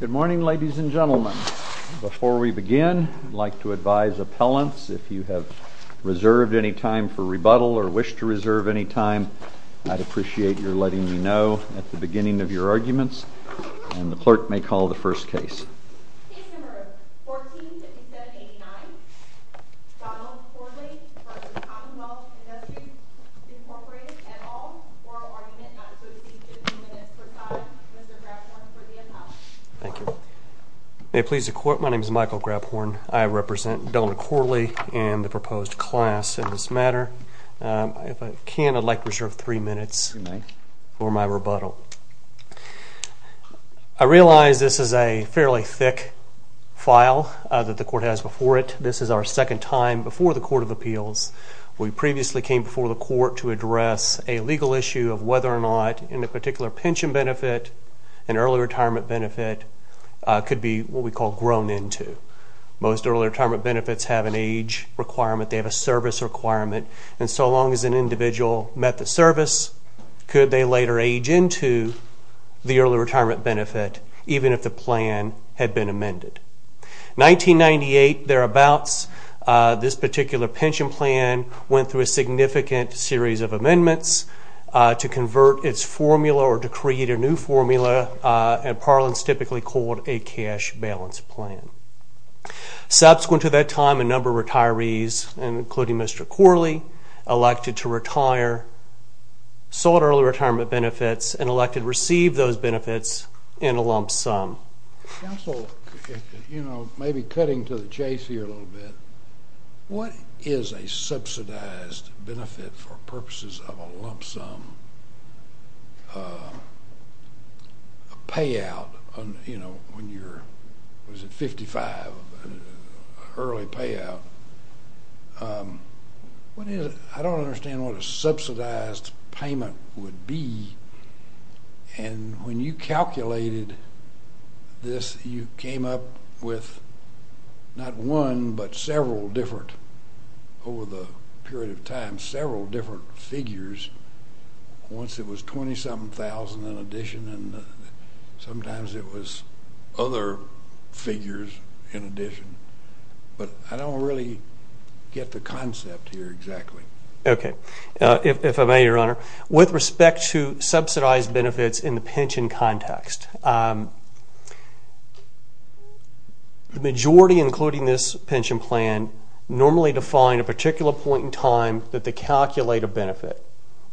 Good morning, ladies and gentlemen. Before we begin, I'd like to advise appellants, if you have reserved any time for rebuttal or wish to reserve any time, I'd appreciate your letting me know at the beginning of your arguments, and the clerk may call the first case. Case No. 14-5789 Donald Corley v. Commonwealth Industries, Incorporated, et al. Oral Argument, not associated with two minutes per side. Mr. Grabhorn for the appellant. This is a fairly thick file that the court has before it. This is our second time before the Court of Appeals. We previously came before the court to address a legal issue of whether or not, in a particular pension benefit, an early retirement benefit could be what we call grown into. Most early retirement benefits have an age requirement, they have a service requirement, and so long as an individual met the service, could they later age into the early retirement benefit, even if the plan had been amended. In 1998, thereabouts, this particular pension plan went through a significant series of amendments to convert its formula or to create a new formula, and appellants typically called a cash balance plan. Subsequent to that time, a number of retirees, including Mr. Corley, elected to retire, sought early retirement benefits, and elected to receive those benefits in a lump sum. Counsel, maybe cutting to the chase here a little bit, what is a subsidized benefit for purposes of a lump sum payout when you're, what is it, 55, early payout? I don't understand what a subsidized payment would be, and when you calculated this, you came up with not one, but several different, over the period of time, several different figures. Once it was 27,000 in addition, and sometimes it was other figures in addition, but I don't really get the concept here exactly. Okay, if I may, Your Honor, with respect to subsidized benefits in the pension context, the majority, including this pension plan, normally define a particular point in time that they calculate a benefit.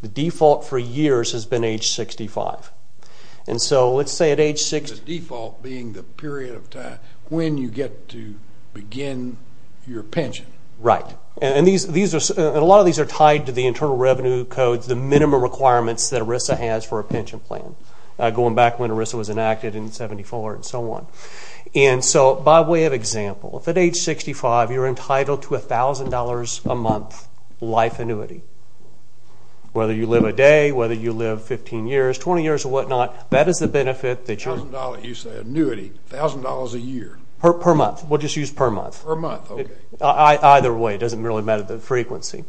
The default for years has been age 65, and so let's say at age 60... The default being the period of time when you get to begin your pension. Right, and a lot of these are tied to the Internal Revenue Codes, the minimum requirements that ERISA has for a pension plan, going back when ERISA was enacted in 74 and so on. And so by way of example, if at age 65 you're entitled to $1,000 a month life annuity, whether you live a day, whether you live 15 years, 20 years or whatnot, that is the benefit that you're... $1,000, you say, annuity, $1,000 a year. Per month, we'll just use per month. Per month, okay. Either way, it doesn't really matter the frequency.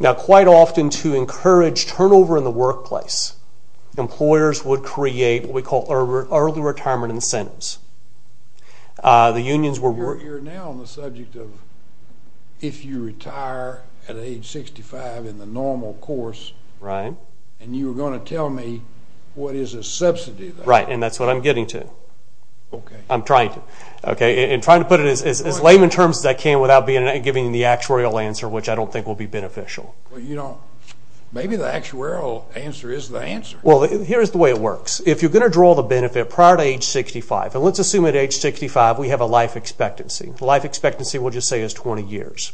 Now, quite often to encourage turnover in the workplace, employers would create what we call early retirement incentives. The unions were... You're now on the subject of if you retire at age 65 in the normal course... Right. And you're going to tell me what is a subsidy. Right, and that's what I'm getting to. Okay. I'm trying to. Okay, and trying to put it as lame in terms as I can without giving the actuarial answer, which I don't think will be beneficial. Well, you don't... Maybe the actuarial answer is the answer. Well, here's the way it works. If you're going to draw the benefit prior to age 65, and let's assume at age 65 we have a life expectancy. Life expectancy, we'll just say, is 20 years.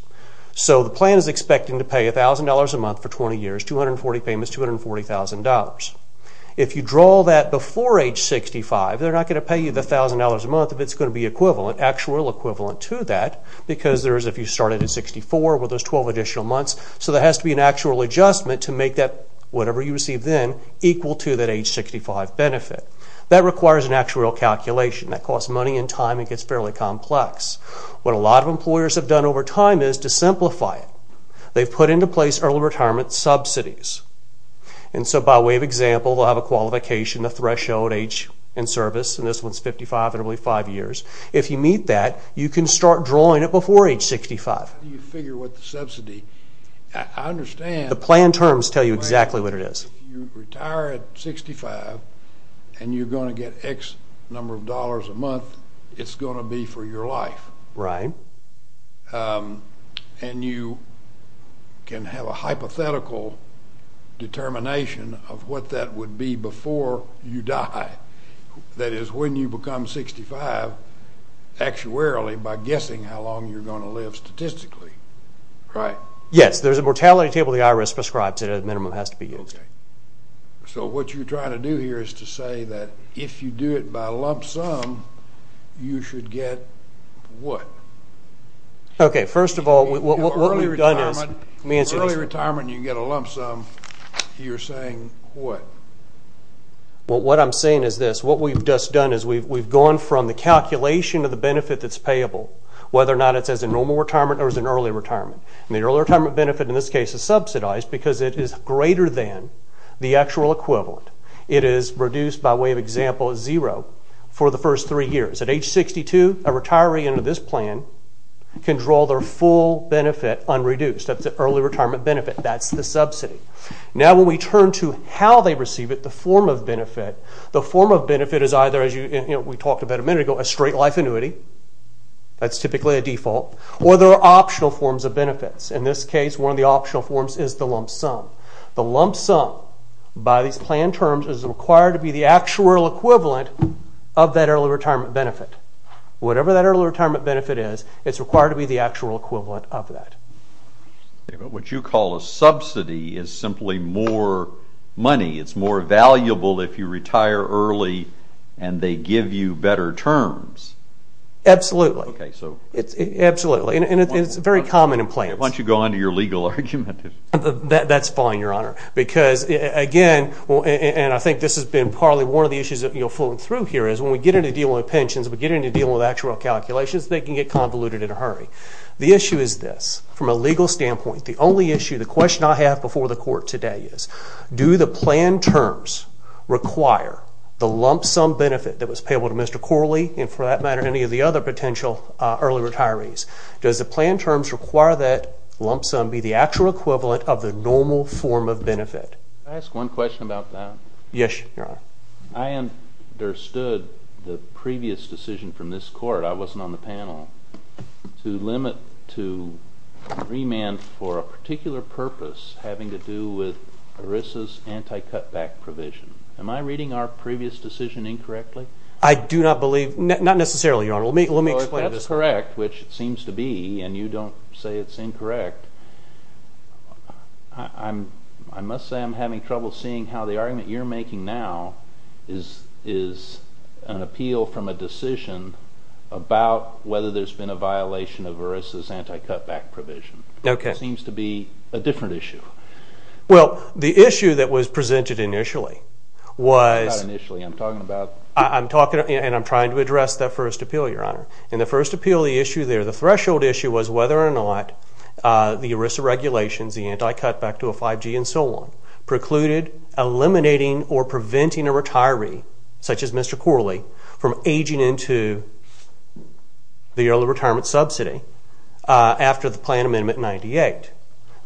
So the plan is expecting to pay $1,000 a month for 20 years, 240 payments, $240,000. If you draw that before age 65, they're not going to pay you the $1,000 a month if it's going to be equivalent, actuarial equivalent to that, because if you started at 64, well, there's 12 additional months. So there has to be an actuarial adjustment to make that whatever you receive then equal to that age 65 benefit. That requires an actuarial calculation. That costs money and time and gets fairly complex. What a lot of employers have done over time is to simplify it. They've put into place early retirement subsidies. And so by way of example, they'll have a qualification, a threshold, age and service, and this one's 55, and it'll be five years. If you meet that, you can start drawing it before age 65. How do you figure what the subsidy? I understand. The plan terms tell you exactly what it is. If you retire at 65 and you're going to get X number of dollars a month, it's going to be for your life. Right. And you can have a hypothetical determination of what that would be before you die. That is, when you become 65 actuarially by guessing how long you're going to live statistically, right? Yes. There's a mortality table the IRS prescribes that a minimum has to be used. Okay. So what you're trying to do here is to say that if you do it by a lump sum, you should get what? Okay. First of all, what we've done is, let me answer this. Early retirement, you get a lump sum. You're saying what? Well, what I'm saying is this. What we've just done is we've gone from the calculation of the benefit that's payable, whether or not it's as a normal retirement or as an early retirement. And the early retirement benefit in this case is subsidized because it is greater than the actual equivalent. It is reduced by way of example zero for the first three years. At age 62, a retiree under this plan can draw their full benefit unreduced. That's the early retirement benefit. That's the subsidy. Now when we turn to how they receive it, the form of benefit, the form of benefit is either, as we talked about a minute ago, a straight life annuity. That's typically a default. Or there are optional forms of benefits. In this case, one of the optional forms is the lump sum. The lump sum, by these plan terms, is required to be the actual equivalent of that early retirement benefit. Whatever that early retirement benefit is, it's required to be the actual equivalent of that. What you call a subsidy is simply more money. It's more valuable if you retire early and they give you better terms. Absolutely. Absolutely. It's very common in plans. Why don't you go on to your legal argument? That's fine, Your Honor. Because, again, and I think this has been partly one of the issues that you'll float through here is when we get into dealing with pensions, we get into dealing with actual calculations, they can get convoluted in a hurry. The issue is this. From a legal standpoint, the only issue, the question I have before the court today is, do the plan terms require the lump sum benefit that was payable to Mr. Corley and, for that matter, any of the other potential early retirees? Does the plan terms require that lump sum be the actual equivalent of the normal form of benefit? Can I ask one question about that? Yes, Your Honor. I understood the previous decision from this court, I wasn't on the panel, to limit to remand for a particular purpose having to do with ERISA's anti-cutback provision. Am I reading our previous decision incorrectly? I do not believe, not necessarily, Your Honor. Let me explain this. Well, if that's correct, which it seems to be, and you don't say it's incorrect, I must say I'm having trouble seeing how the argument you're making now is an appeal from a decision about whether there's been a violation of ERISA's anti-cutback provision. Okay. It seems to be a different issue. Well, the issue that was presented initially was… And I'm trying to address that first appeal, Your Honor. In the first appeal, the issue there, the threshold issue, was whether or not the ERISA regulations, the anti-cutback to a 5G and so on, precluded eliminating or preventing a retiree, such as Mr. Corley, from aging into the early retirement subsidy after the plan amendment 98.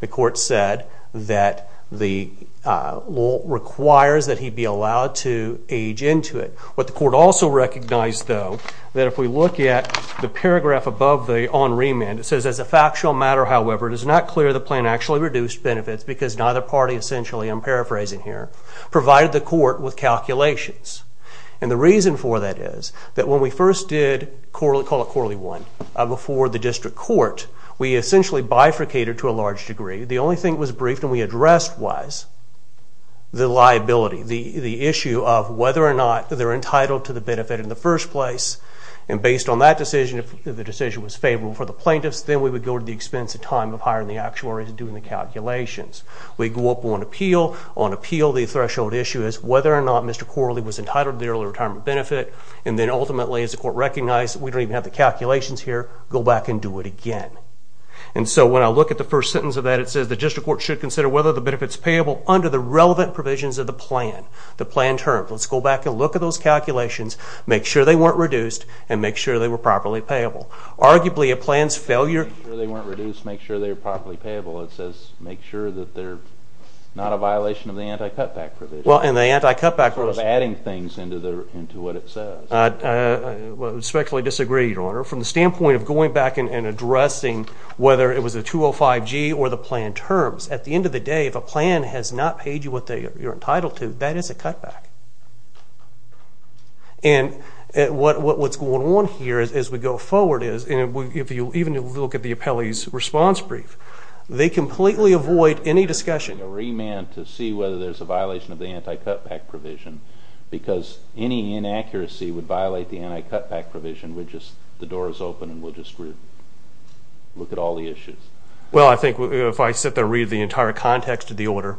The court said that the law requires that he be allowed to age into it. What the court also recognized, though, that if we look at the paragraph above the on remand, it says, as a factual matter, however, it is not clear the plan actually reduced benefits because neither party essentially, I'm paraphrasing here, provided the court with calculations. And the reason for that is that when we first did, call it Corley 1, before the district court, we essentially bifurcated to a large degree. The only thing that was briefed and we addressed was the liability, the issue of whether or not they're entitled to the benefit in the first place. And based on that decision, if the decision was favorable for the plaintiffs, then we would go to the expense of time of hiring the actuaries and doing the calculations. We go up on appeal. On appeal, the threshold issue is whether or not Mr. Corley was entitled to the early retirement benefit. And then ultimately, as the court recognized, we don't even have the calculations here, go back and do it again. And so when I look at the first sentence of that, it says, the district court should consider whether the benefit's payable under the relevant provisions of the plan. The plan terms. Let's go back and look at those calculations, make sure they weren't reduced, and make sure they were properly payable. Arguably, a plan's failure... Make sure they weren't reduced, make sure they were properly payable. It says make sure that they're not a violation of the anti-cutback provision. Well, and the anti-cutback... Sort of adding things into what it says. I respectfully disagree, Your Honor. From the standpoint of going back and addressing whether it was a 205G or the plan terms, at the end of the day, if a plan has not paid you what you're entitled to, that is a cutback. And what's going on here as we go forward is, and if you even look at the appellee's response brief, they completely avoid any discussion... ...a remand to see whether there's a violation of the anti-cutback provision because any inaccuracy would violate the anti-cutback provision and the door is open and we'll just look at all the issues. Well, I think if I sit there and read the entire context of the order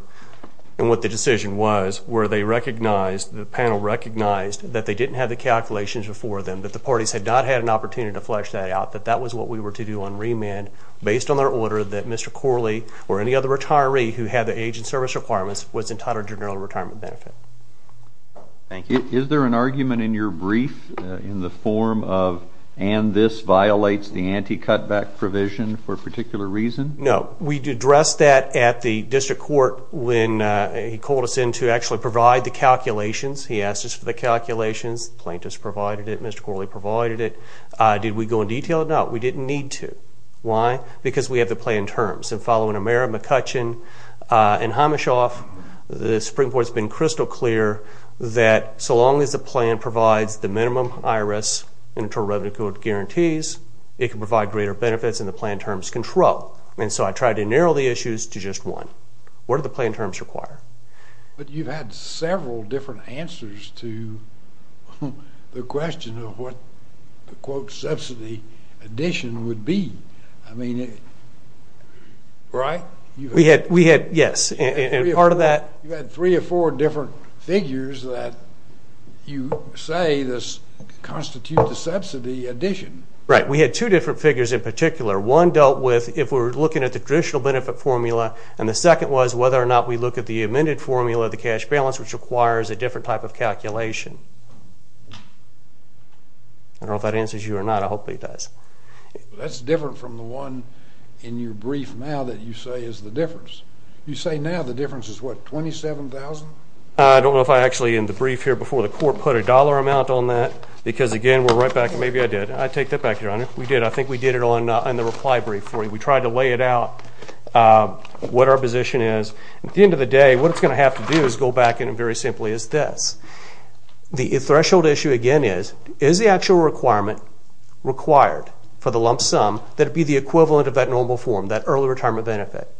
and what the decision was where they recognized, the panel recognized, that they didn't have the calculations before them, that the parties had not had an opportunity to flesh that out, that that was what we were to do on remand based on their order that Mr. Corley or any other retiree who had the age and service requirements was entitled to a general retirement benefit. Thank you. Is there an argument in your brief in the form of, and this violates the anti-cutback provision for a particular reason? No. We addressed that at the district court when he called us in to actually provide the calculations. He asked us for the calculations. The plaintiffs provided it. Mr. Corley provided it. Did we go in detail? No, we didn't need to. Why? Because we have the plan in terms. And following Amera McCutcheon and Hamishoff, the Supreme Court has been crystal clear that so long as the plan provides the minimum IRS inter-revenue code guarantees, it can provide greater benefits than the plan terms control. And so I tried to narrow the issues to just one. What do the plan terms require? But you've had several different answers to the question of what the, quote, subsidy addition would be. I mean, right? We had, yes, and part of that. You had three or four different figures that you say constitute the subsidy addition. Right. We had two different figures in particular. One dealt with if we were looking at the traditional benefit formula, and the second was whether or not we look at the amended formula, the cash balance, which requires a different type of calculation. I don't know if that answers you or not. I hope it does. That's different from the one in your brief now that you say is the difference. You say now the difference is, what, $27,000? I don't know if I actually, in the brief here before the court, put a dollar amount on that because, again, we're right back. Maybe I did. I take that back, Your Honor. We did. I think we did it on the reply brief for you. We tried to lay it out what our position is. At the end of the day, what it's going to have to do is go back and very simply is this. The threshold issue again is, is the actual requirement required for the lump sum that it be the equivalent of that normal form, that early retirement benefit?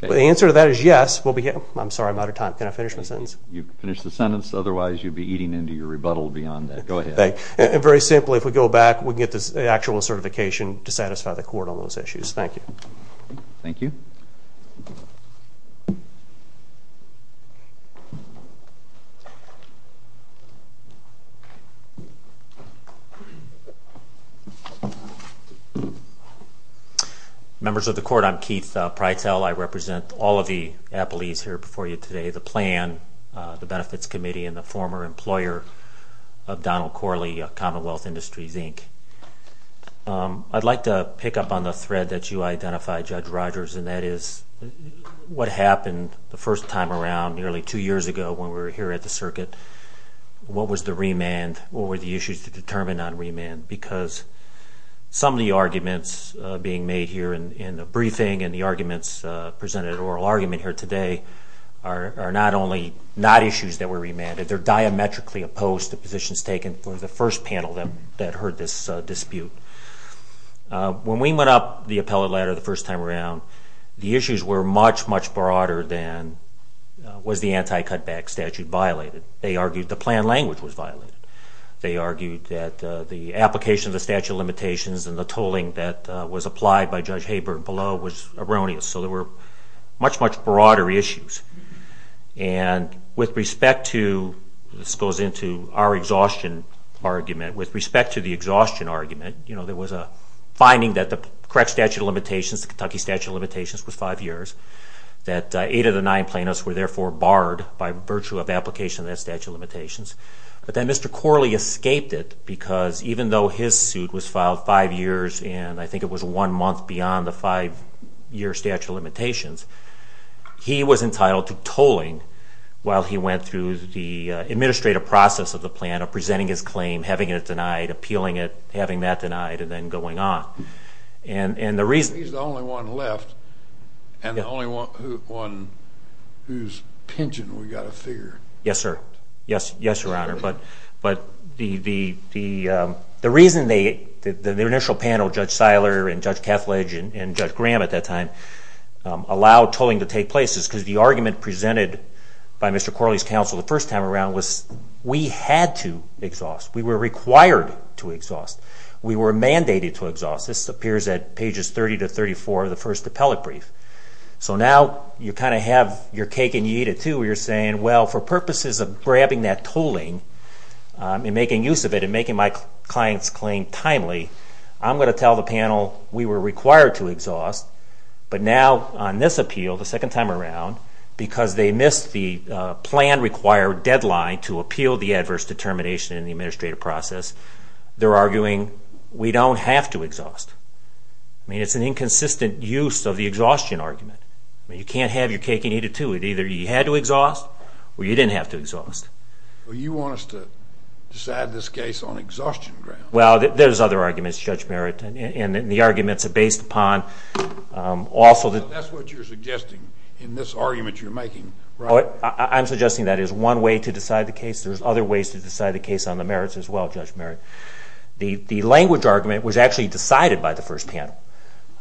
The answer to that is yes. I'm sorry, I'm out of time. Can I finish my sentence? You can finish the sentence. Otherwise, you'll be eating into your rebuttal beyond that. Go ahead. Very simply, if we go back, we can get the actual certification to satisfy the court on those issues. Thank you. Thank you. Members of the court, I'm Keith Prytel. I represent all of the appellees here before you today, the plan, the benefits committee, and the former employer of Donald Corley, Commonwealth Industries, Inc. I'd like to pick up on the thread that you identified, Judge Rogers, and that is what happened the first time around nearly two years ago when we were here at the circuit. What was the remand? What were the issues to determine on remand? Because some of the arguments being made here in the briefing and the arguments presented at oral argument here today are not only not issues that were remanded, they're diametrically opposed to positions taken for the first panel that heard this dispute. When we went up the appellate ladder the first time around, the issues were much, much broader than was the anti-cutback statute violated. They argued the plan language was violated. They argued that the application of the statute of limitations and the tolling that was applied by Judge Haber below was erroneous. So there were much, much broader issues. And with respect to, this goes into our exhaustion argument, with respect to the exhaustion argument, there was a finding that the correct statute of limitations, the Kentucky statute of limitations, was five years, that eight of the nine plaintiffs were therefore barred by virtue of application of that statute of limitations. But then Mr. Corley escaped it because even though his suit was filed five years and I think it was one month beyond the five-year statute of limitations, he was entitled to tolling while he went through the administrative process of the plan, presenting his claim, having it denied, appealing it, having that denied, and then going on. And the reason... He's the only one left and the only one whose pigeon we've got to figure. Yes, sir. Yes, Your Honor. But the reason the initial panel, Judge Seiler and Judge Kethledge and Judge Graham at that time, allowed tolling to take place is because the argument presented by Mr. Corley's counsel the first time around was we had to exhaust. We were required to exhaust. We were mandated to exhaust. This appears at pages 30 to 34 of the first appellate brief. So now you kind of have your cake and you eat it too where you're saying, well, for purposes of grabbing that tolling and making use of it and making my client's claim timely, I'm going to tell the panel we were required to exhaust. But now on this appeal, the second time around, because they missed the plan-required deadline to appeal the adverse determination in the administrative process, they're arguing we don't have to exhaust. I mean, it's an inconsistent use of the exhaustion argument. You can't have your cake and eat it too. Either you had to exhaust or you didn't have to exhaust. Well, you want us to decide this case on exhaustion grounds. Well, there's other arguments, Judge Merritt, and the arguments are based upon also the... That's what you're suggesting in this argument you're making, right? I'm suggesting that is one way to decide the case. There's other ways to decide the case on the merits as well, Judge Merritt. The language argument was actually decided by the first panel.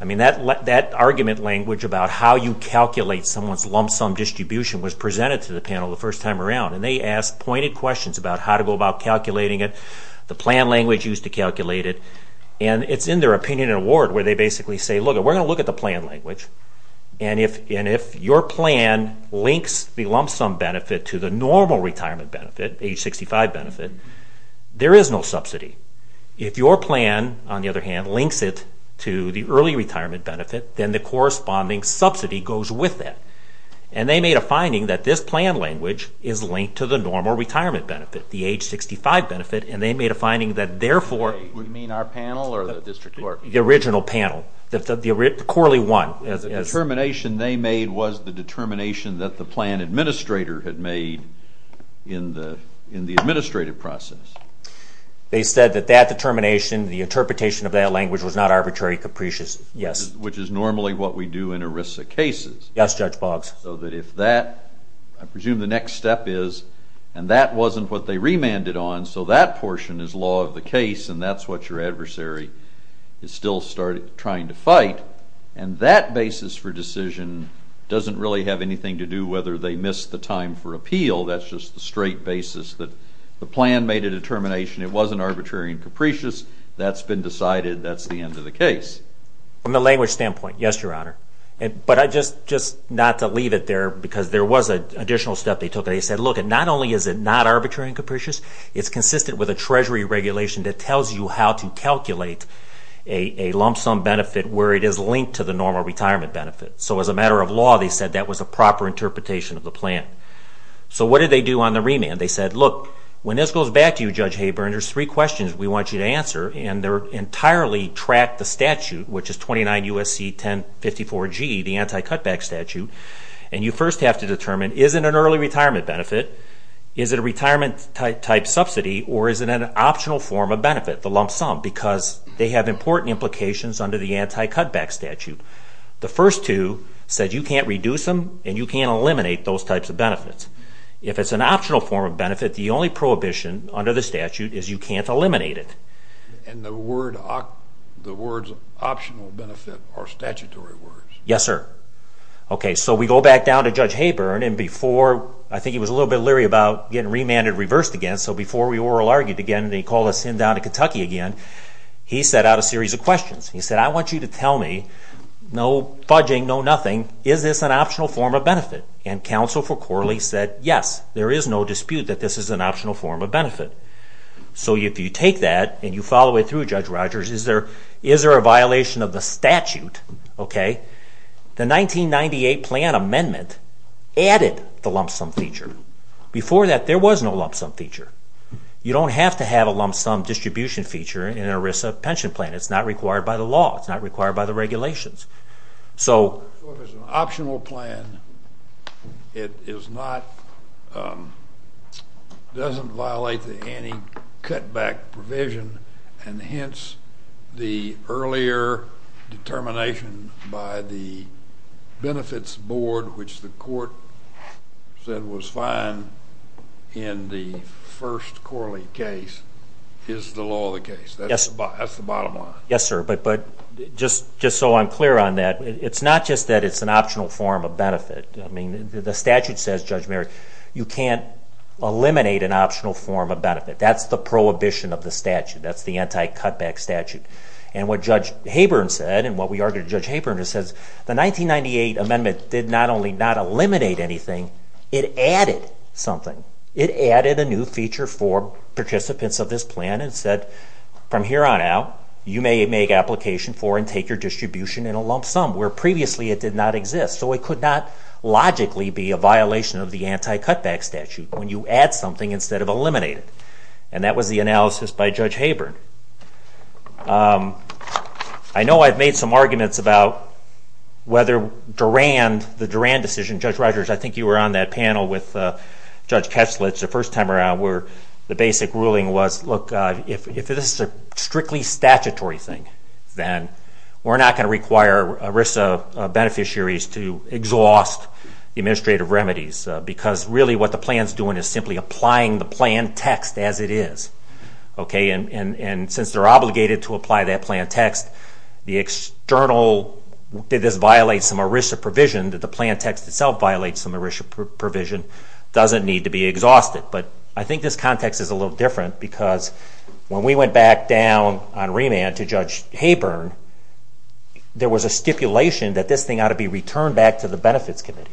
I mean, that argument language about how you calculate someone's lump sum distribution was presented to the panel the first time around, and they asked pointed questions about how to go about calculating it. The plan language used to calculate it. And it's in their opinion and award where they basically say, look, we're going to look at the plan language, and if your plan links the lump sum benefit to the normal retirement benefit, age 65 benefit, there is no subsidy. If your plan, on the other hand, links it to the early retirement benefit, then the corresponding subsidy goes with that. And they made a finding that this plan language is linked to the normal retirement benefit, the age 65 benefit, and they made a finding that therefore... You mean our panel or the district court? The original panel, the Corley one. The determination they made was the determination that the plan administrator had made in the administrative process. They said that that determination, the interpretation of that language, was not arbitrary capricious, yes. Which is normally what we do in ERISA cases. Yes, Judge Boggs. So that if that, I presume the next step is, and that wasn't what they remanded on, so that portion is law of the case, and that's what your adversary is still trying to fight. And that basis for decision doesn't really have anything to do whether they missed the time for appeal. That's just the straight basis that the plan made a determination. It wasn't arbitrary and capricious. That's been decided. That's the end of the case. From the language standpoint, yes, Your Honor. But just not to leave it there, because there was an additional step they took. They said, look, not only is it not arbitrary and capricious, it's consistent with a Treasury regulation that tells you how to calculate a lump sum benefit where it is linked to the normal retirement benefit. So as a matter of law, they said that was a proper interpretation of the plan. So what did they do on the remand? They said, look, when this goes back to you, Judge Haber, and there's three questions we want you to answer, and they're entirely track the statute, which is 29 U.S.C. 1054G, the anti-cutback statute, and you first have to determine, is it an early retirement benefit? Is it a retirement-type subsidy? Or is it an optional form of benefit, the lump sum? Because they have important implications under the anti-cutback statute. The first two said you can't reduce them and you can't eliminate those types of benefits. If it's an optional form of benefit, the only prohibition under the statute is you can't eliminate it. And the words optional benefit are statutory words? Yes, sir. Okay, so we go back down to Judge Haber, and before I think he was a little bit leery about getting remanded reversed again, so before we oral argued again and he called us in down to Kentucky again, he set out a series of questions. He said, I want you to tell me, no fudging, no nothing, is this an optional form of benefit? And counsel for Corley said, yes, there is no dispute that this is an optional form of benefit. So if you take that and you follow it through, Judge Rogers, is there a violation of the statute? The 1998 plan amendment added the lump sum feature. Before that, there was no lump sum feature. You don't have to have a lump sum distribution feature in an ERISA pension plan. It's not required by the law. It's not required by the regulations. So if it's an optional plan, it is not, doesn't violate the anti-cutback provision, and hence the earlier determination by the benefits board, which the court said was fine in the first Corley case, is the law of the case. That's the bottom line. Yes, sir, but just so I'm clear on that, it's not just that it's an optional form of benefit. I mean, the statute says, Judge Merrick, you can't eliminate an optional form of benefit. That's the prohibition of the statute. That's the anti-cutback statute. And what Judge Haburn said, and what we argued to Judge Haburn, is the 1998 amendment did not only not eliminate anything, it added something. It added a new feature for participants of this plan and said, from here on out, you may make application for and take your distribution in a lump sum, where previously it did not exist. So it could not logically be a violation of the anti-cutback statute when you add something instead of eliminate it. And that was the analysis by Judge Haburn. I know I've made some arguments about whether the Duran decision, Judge Rogers, I think you were on that panel with Judge Keslitz the first time around, where the basic ruling was, look, if this is a strictly statutory thing, then we're not going to require ERISA beneficiaries to exhaust the administrative remedies, because really what the plan is doing is simply applying the plan text as it is. And since they're obligated to apply that plan text, the external, did this violate some ERISA provision, did the plan text itself violate some ERISA provision, doesn't need to be exhausted. But I think this context is a little different, because when we went back down on remand to Judge Haburn, there was a stipulation that this thing ought to be returned back to the Benefits Committee.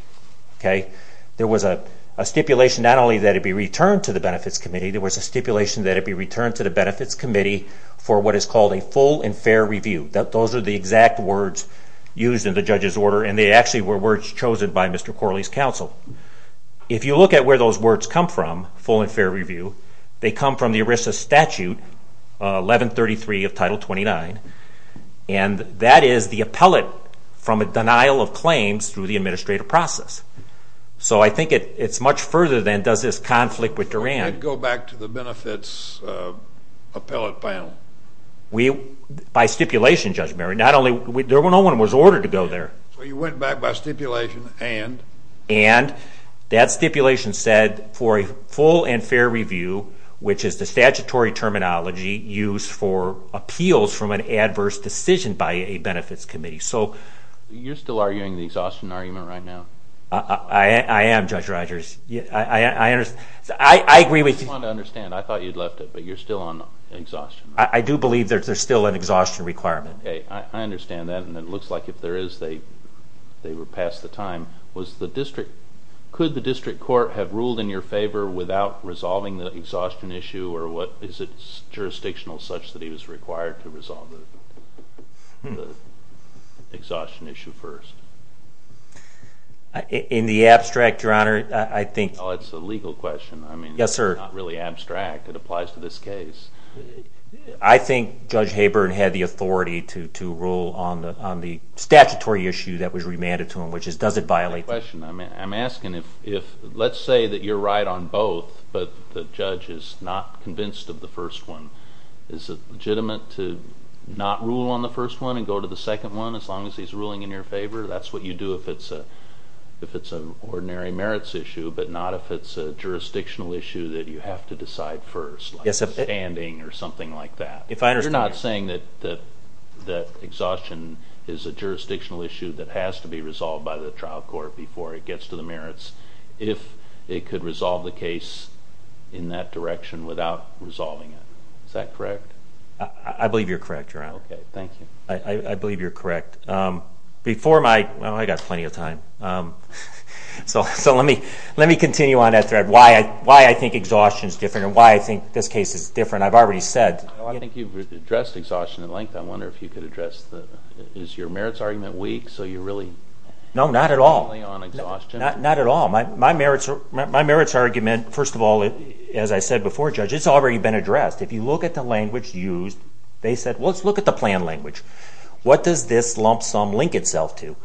There was a stipulation not only that it be returned to the Benefits Committee, there was a stipulation that it be returned to the Benefits Committee for what is called a full and fair review. Those are the exact words used in the judge's order, and they actually were words chosen by Mr. Corley's counsel. If you look at where those words come from, full and fair review, they come from the ERISA statute, 1133 of Title 29, and that is the appellate from a denial of claims through the administrative process. So I think it's much further than does this conflict with Duran. Did it go back to the Benefits Appellate Panel? By stipulation, Judge Barry. Not only, no one was ordered to go there. So you went back by stipulation and? And that stipulation said for a full and fair review, which is the statutory terminology used for appeals from an adverse decision by a Benefits Committee. You're still arguing the exhaustion argument right now? I am, Judge Rogers. I agree with you. I just wanted to understand. I thought you'd left it, but you're still on exhaustion. I do believe there's still an exhaustion requirement. Okay, I understand that, and it looks like if there is, they were past the time. Could the district court have ruled in your favor without resolving the exhaustion issue, or is it jurisdictional such that he was required to resolve the exhaustion issue first? In the abstract, Your Honor, I think. Oh, it's a legal question. Yes, sir. It's not really abstract. It applies to this case. I think Judge Haber had the authority to rule on the statutory issue that was remanded to him, which is does it violate the? I have a question. I'm asking if, let's say that you're right on both, but the judge is not convinced of the first one. Is it legitimate to not rule on the first one and go to the second one as long as he's ruling in your favor? That's what you do if it's an ordinary merits issue, but not if it's a jurisdictional issue that you have to decide first. Like standing or something like that. You're not saying that exhaustion is a jurisdictional issue that has to be resolved by the trial court before it gets to the merits if it could resolve the case in that direction without resolving it. Is that correct? I believe you're correct, Your Honor. Okay, thank you. I believe you're correct. Before my... Well, I've got plenty of time. So let me continue on that thread. Why I think exhaustion is different and why I think this case is different, I've already said. Well, I think you've addressed exhaustion at length. I wonder if you could address the... Is your merits argument weak, so you're really... No, not at all. Not at all. My merits argument, first of all, as I said before, Judge, it's already been addressed. If you look at the language used, they said, well, let's look at the plan language. What does this lump sum link itself to?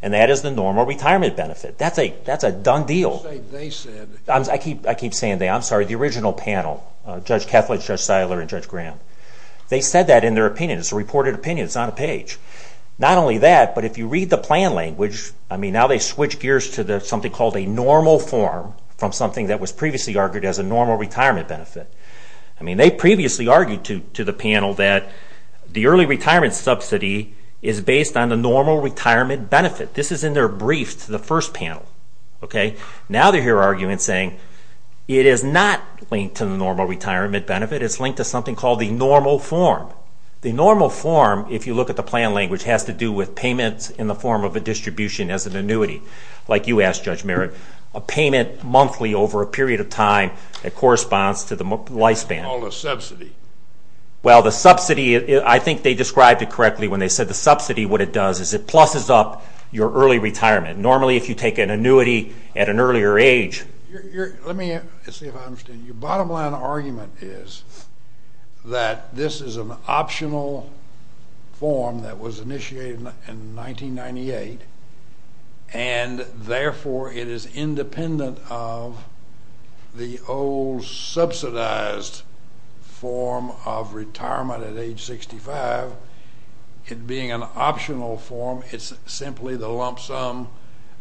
And that is the normal retirement benefit. That's a done deal. I keep saying that. I'm sorry, the original panel, Judge Kethledge, Judge Seiler, and Judge Graham, they said that in their opinion. It's a reported opinion. It's on a page. Not only that, but if you read the plan language, I mean, now they've switched gears to something called a normal form from something that was previously argued as a normal retirement benefit. I mean, they previously argued to the panel that the early retirement subsidy is based on the normal retirement benefit. This is in their brief to the first panel. Now they're here arguing and saying it is not linked to the normal retirement benefit. It's linked to something called the normal form. The normal form, if you look at the plan language, has to do with payments in the form of a distribution as an annuity, like you asked, Judge Merritt, a payment monthly over a period of time that corresponds to the lifespan. It's called a subsidy. Well, the subsidy, I think they described it correctly when they said the subsidy. What it does is it plusses up your early retirement. Normally, if you take an annuity at an earlier age... Let me see if I understand. Your bottom line argument is that this is an optional form that was initiated in 1998, and therefore it is independent of the old subsidized form of retirement at age 65. It being an optional form, it's simply the lump sum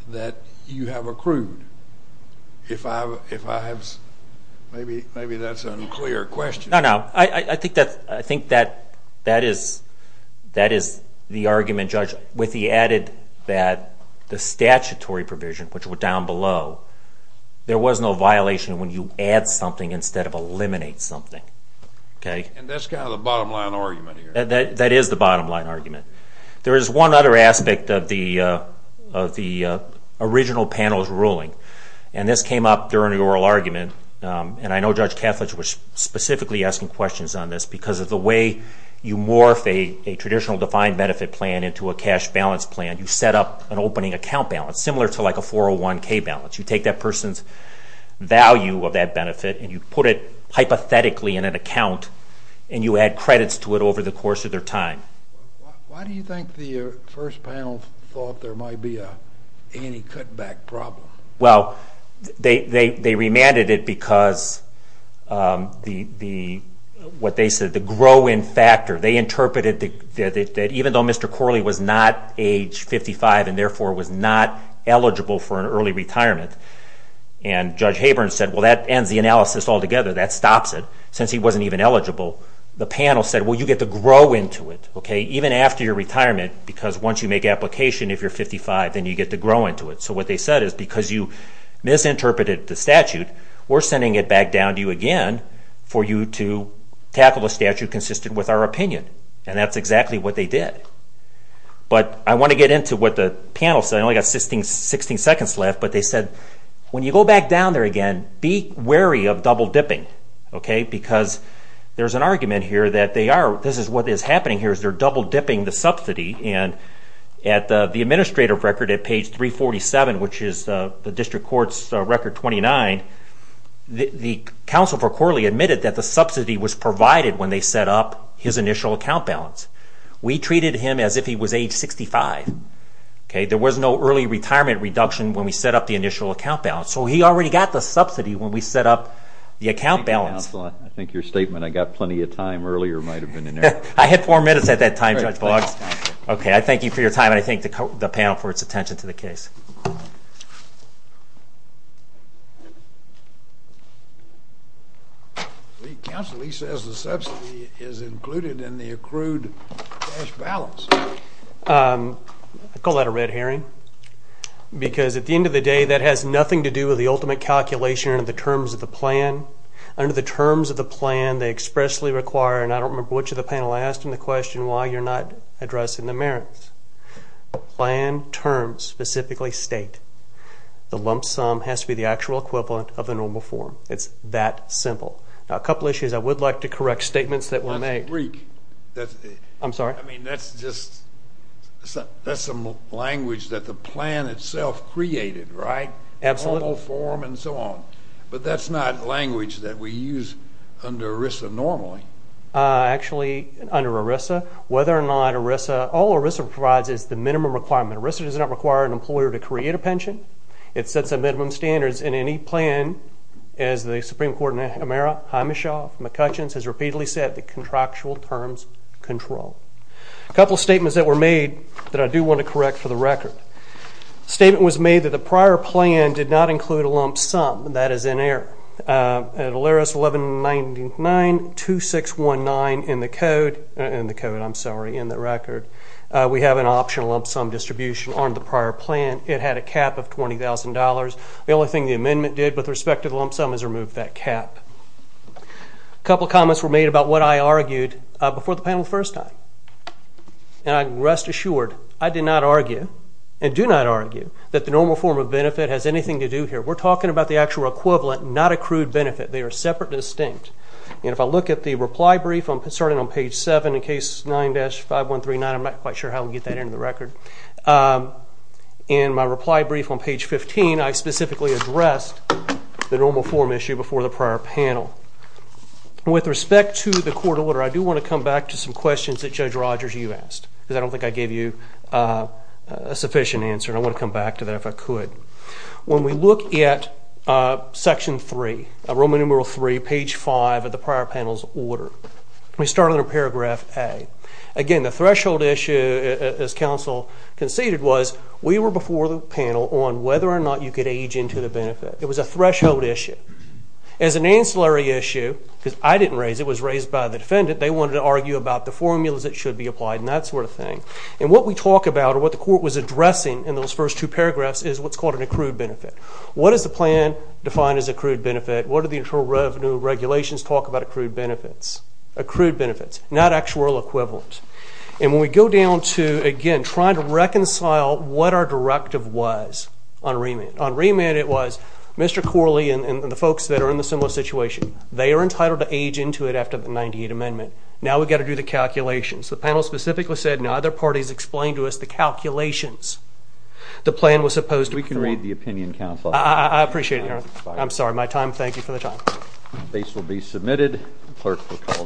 that you have accrued. If I have... Maybe that's an unclear question. No, no. I think that is the argument, Judge, with the added that the statutory provision, which were down below, there was no violation when you add something instead of eliminate something. And that's kind of the bottom line argument here. That is the bottom line argument. There is one other aspect of the original panel's ruling, and this came up during the oral argument. And I know Judge Kethledge was specifically asking questions on this because of the way you morph a traditional defined benefit plan into a cash balance plan. You set up an opening account balance, similar to like a 401k balance. You take that person's value of that benefit and you put it hypothetically in an account and you add credits to it over the course of their time. Why do you think the first panel thought there might be an anti-cutback problem? Well, they remanded it because what they said, the grow-in factor, they interpreted that even though Mr. Corley was not age 55 and therefore was not eligible for an early retirement, and Judge Haber said, well, that ends the analysis altogether. That stops it since he wasn't even eligible. The panel said, well, you get to grow into it, even after your retirement, because once you make application if you're 55, then you get to grow into it. So what they said is because you misinterpreted the statute, we're sending it back down to you again for you to tackle the statute consistent with our opinion. And that's exactly what they did. But I want to get into what the panel said. I only got 16 seconds left, but they said when you go back down there again, be wary of double-dipping, because there's an argument here that they are, this is what is happening here, is they're double-dipping the subsidy. And at the administrative record at page 347, which is the district court's record 29, the counsel for Corley admitted that the subsidy was provided when they set up his initial account balance. We treated him as if he was age 65. There was no early retirement reduction when we set up the initial account balance. So he already got the subsidy when we set up the account balance. Thank you, counsel. I think your statement, I got plenty of time earlier might have been in there. I had four minutes at that time, Judge Boggs. Okay, I thank you for your time, and I thank the panel for its attention to the case. Counsel, he says the subsidy is included in the accrued cash balance. I call that a red herring, because at the end of the day, that has nothing to do with the ultimate calculation or the terms of the plan. Under the terms of the plan, they expressly require, and I don't remember which of the panel I asked in the question why you're not addressing the merits. Plan terms specifically state the lump sum has to be the actual equivalent of the normal form. It's that simple. Now, a couple of issues I would like to correct, statements that were made. That's Greek. I'm sorry? I mean, that's just, that's some language that the plan itself created, right? Absolutely. Normal form and so on. But that's not language that we use under ERISA normally. Actually, under ERISA, whether or not ERISA, all ERISA provides is the minimum requirement. ERISA does not require an employer to create a pension. It sets a minimum standards in any plan as the Supreme Court, McCutcheons has repeatedly said the contractual terms control. A couple of statements that were made that I do want to correct for the record. A statement was made that the prior plan did not include a lump sum. That is in error. At ALERIS 11992619 in the code, in the code, I'm sorry, in the record, we have an optional lump sum distribution on the prior plan. It had a cap of $20,000. The only thing the amendment did with respect to the lump sum was remove that cap. A couple of comments were made about what I argued before the panel the first time. And rest assured, I did not argue and do not argue that the normal form of benefit has anything to do here. We're talking about the actual equivalent, not accrued benefit. They are separate and distinct. And if I look at the reply brief, I'm starting on page 7 in case 9-5139. I'm not quite sure how to get that into the record. In my reply brief on page 15, I specifically addressed the normal form issue before the prior panel. With respect to the court order, I do want to come back to some questions that Judge Rogers, you asked, because I don't think I gave you a sufficient answer. I want to come back to that if I could. When we look at section 3, Roman numeral 3, page 5 of the prior panel's order, we start under paragraph A. Again, the threshold issue, as counsel conceded, was we were before the panel on whether or not you could age into the benefit. It was a threshold issue. As an ancillary issue, because I didn't raise it, it was raised by the defendant, they wanted to argue about the formulas that should be applied and that sort of thing. And what we talk about or what the court was addressing in those first two paragraphs is what's called an accrued benefit. What does the plan define as accrued benefit? What do the Internal Revenue Regulations talk about accrued benefits? Accrued benefits, not actual equivalent. And when we go down to, again, trying to reconcile what our directive was on remand. On remand, it was Mr. Corley and the folks that are in a similar situation, they are entitled to age into it after the 98th Amendment. Now we've got to do the calculations. The panel specifically said, and other parties explained to us the calculations. The plan was supposed to... We can read the opinion council. I appreciate it. I'm sorry, my time. Thank you for the time. The case will be submitted. The clerk will call the meeting.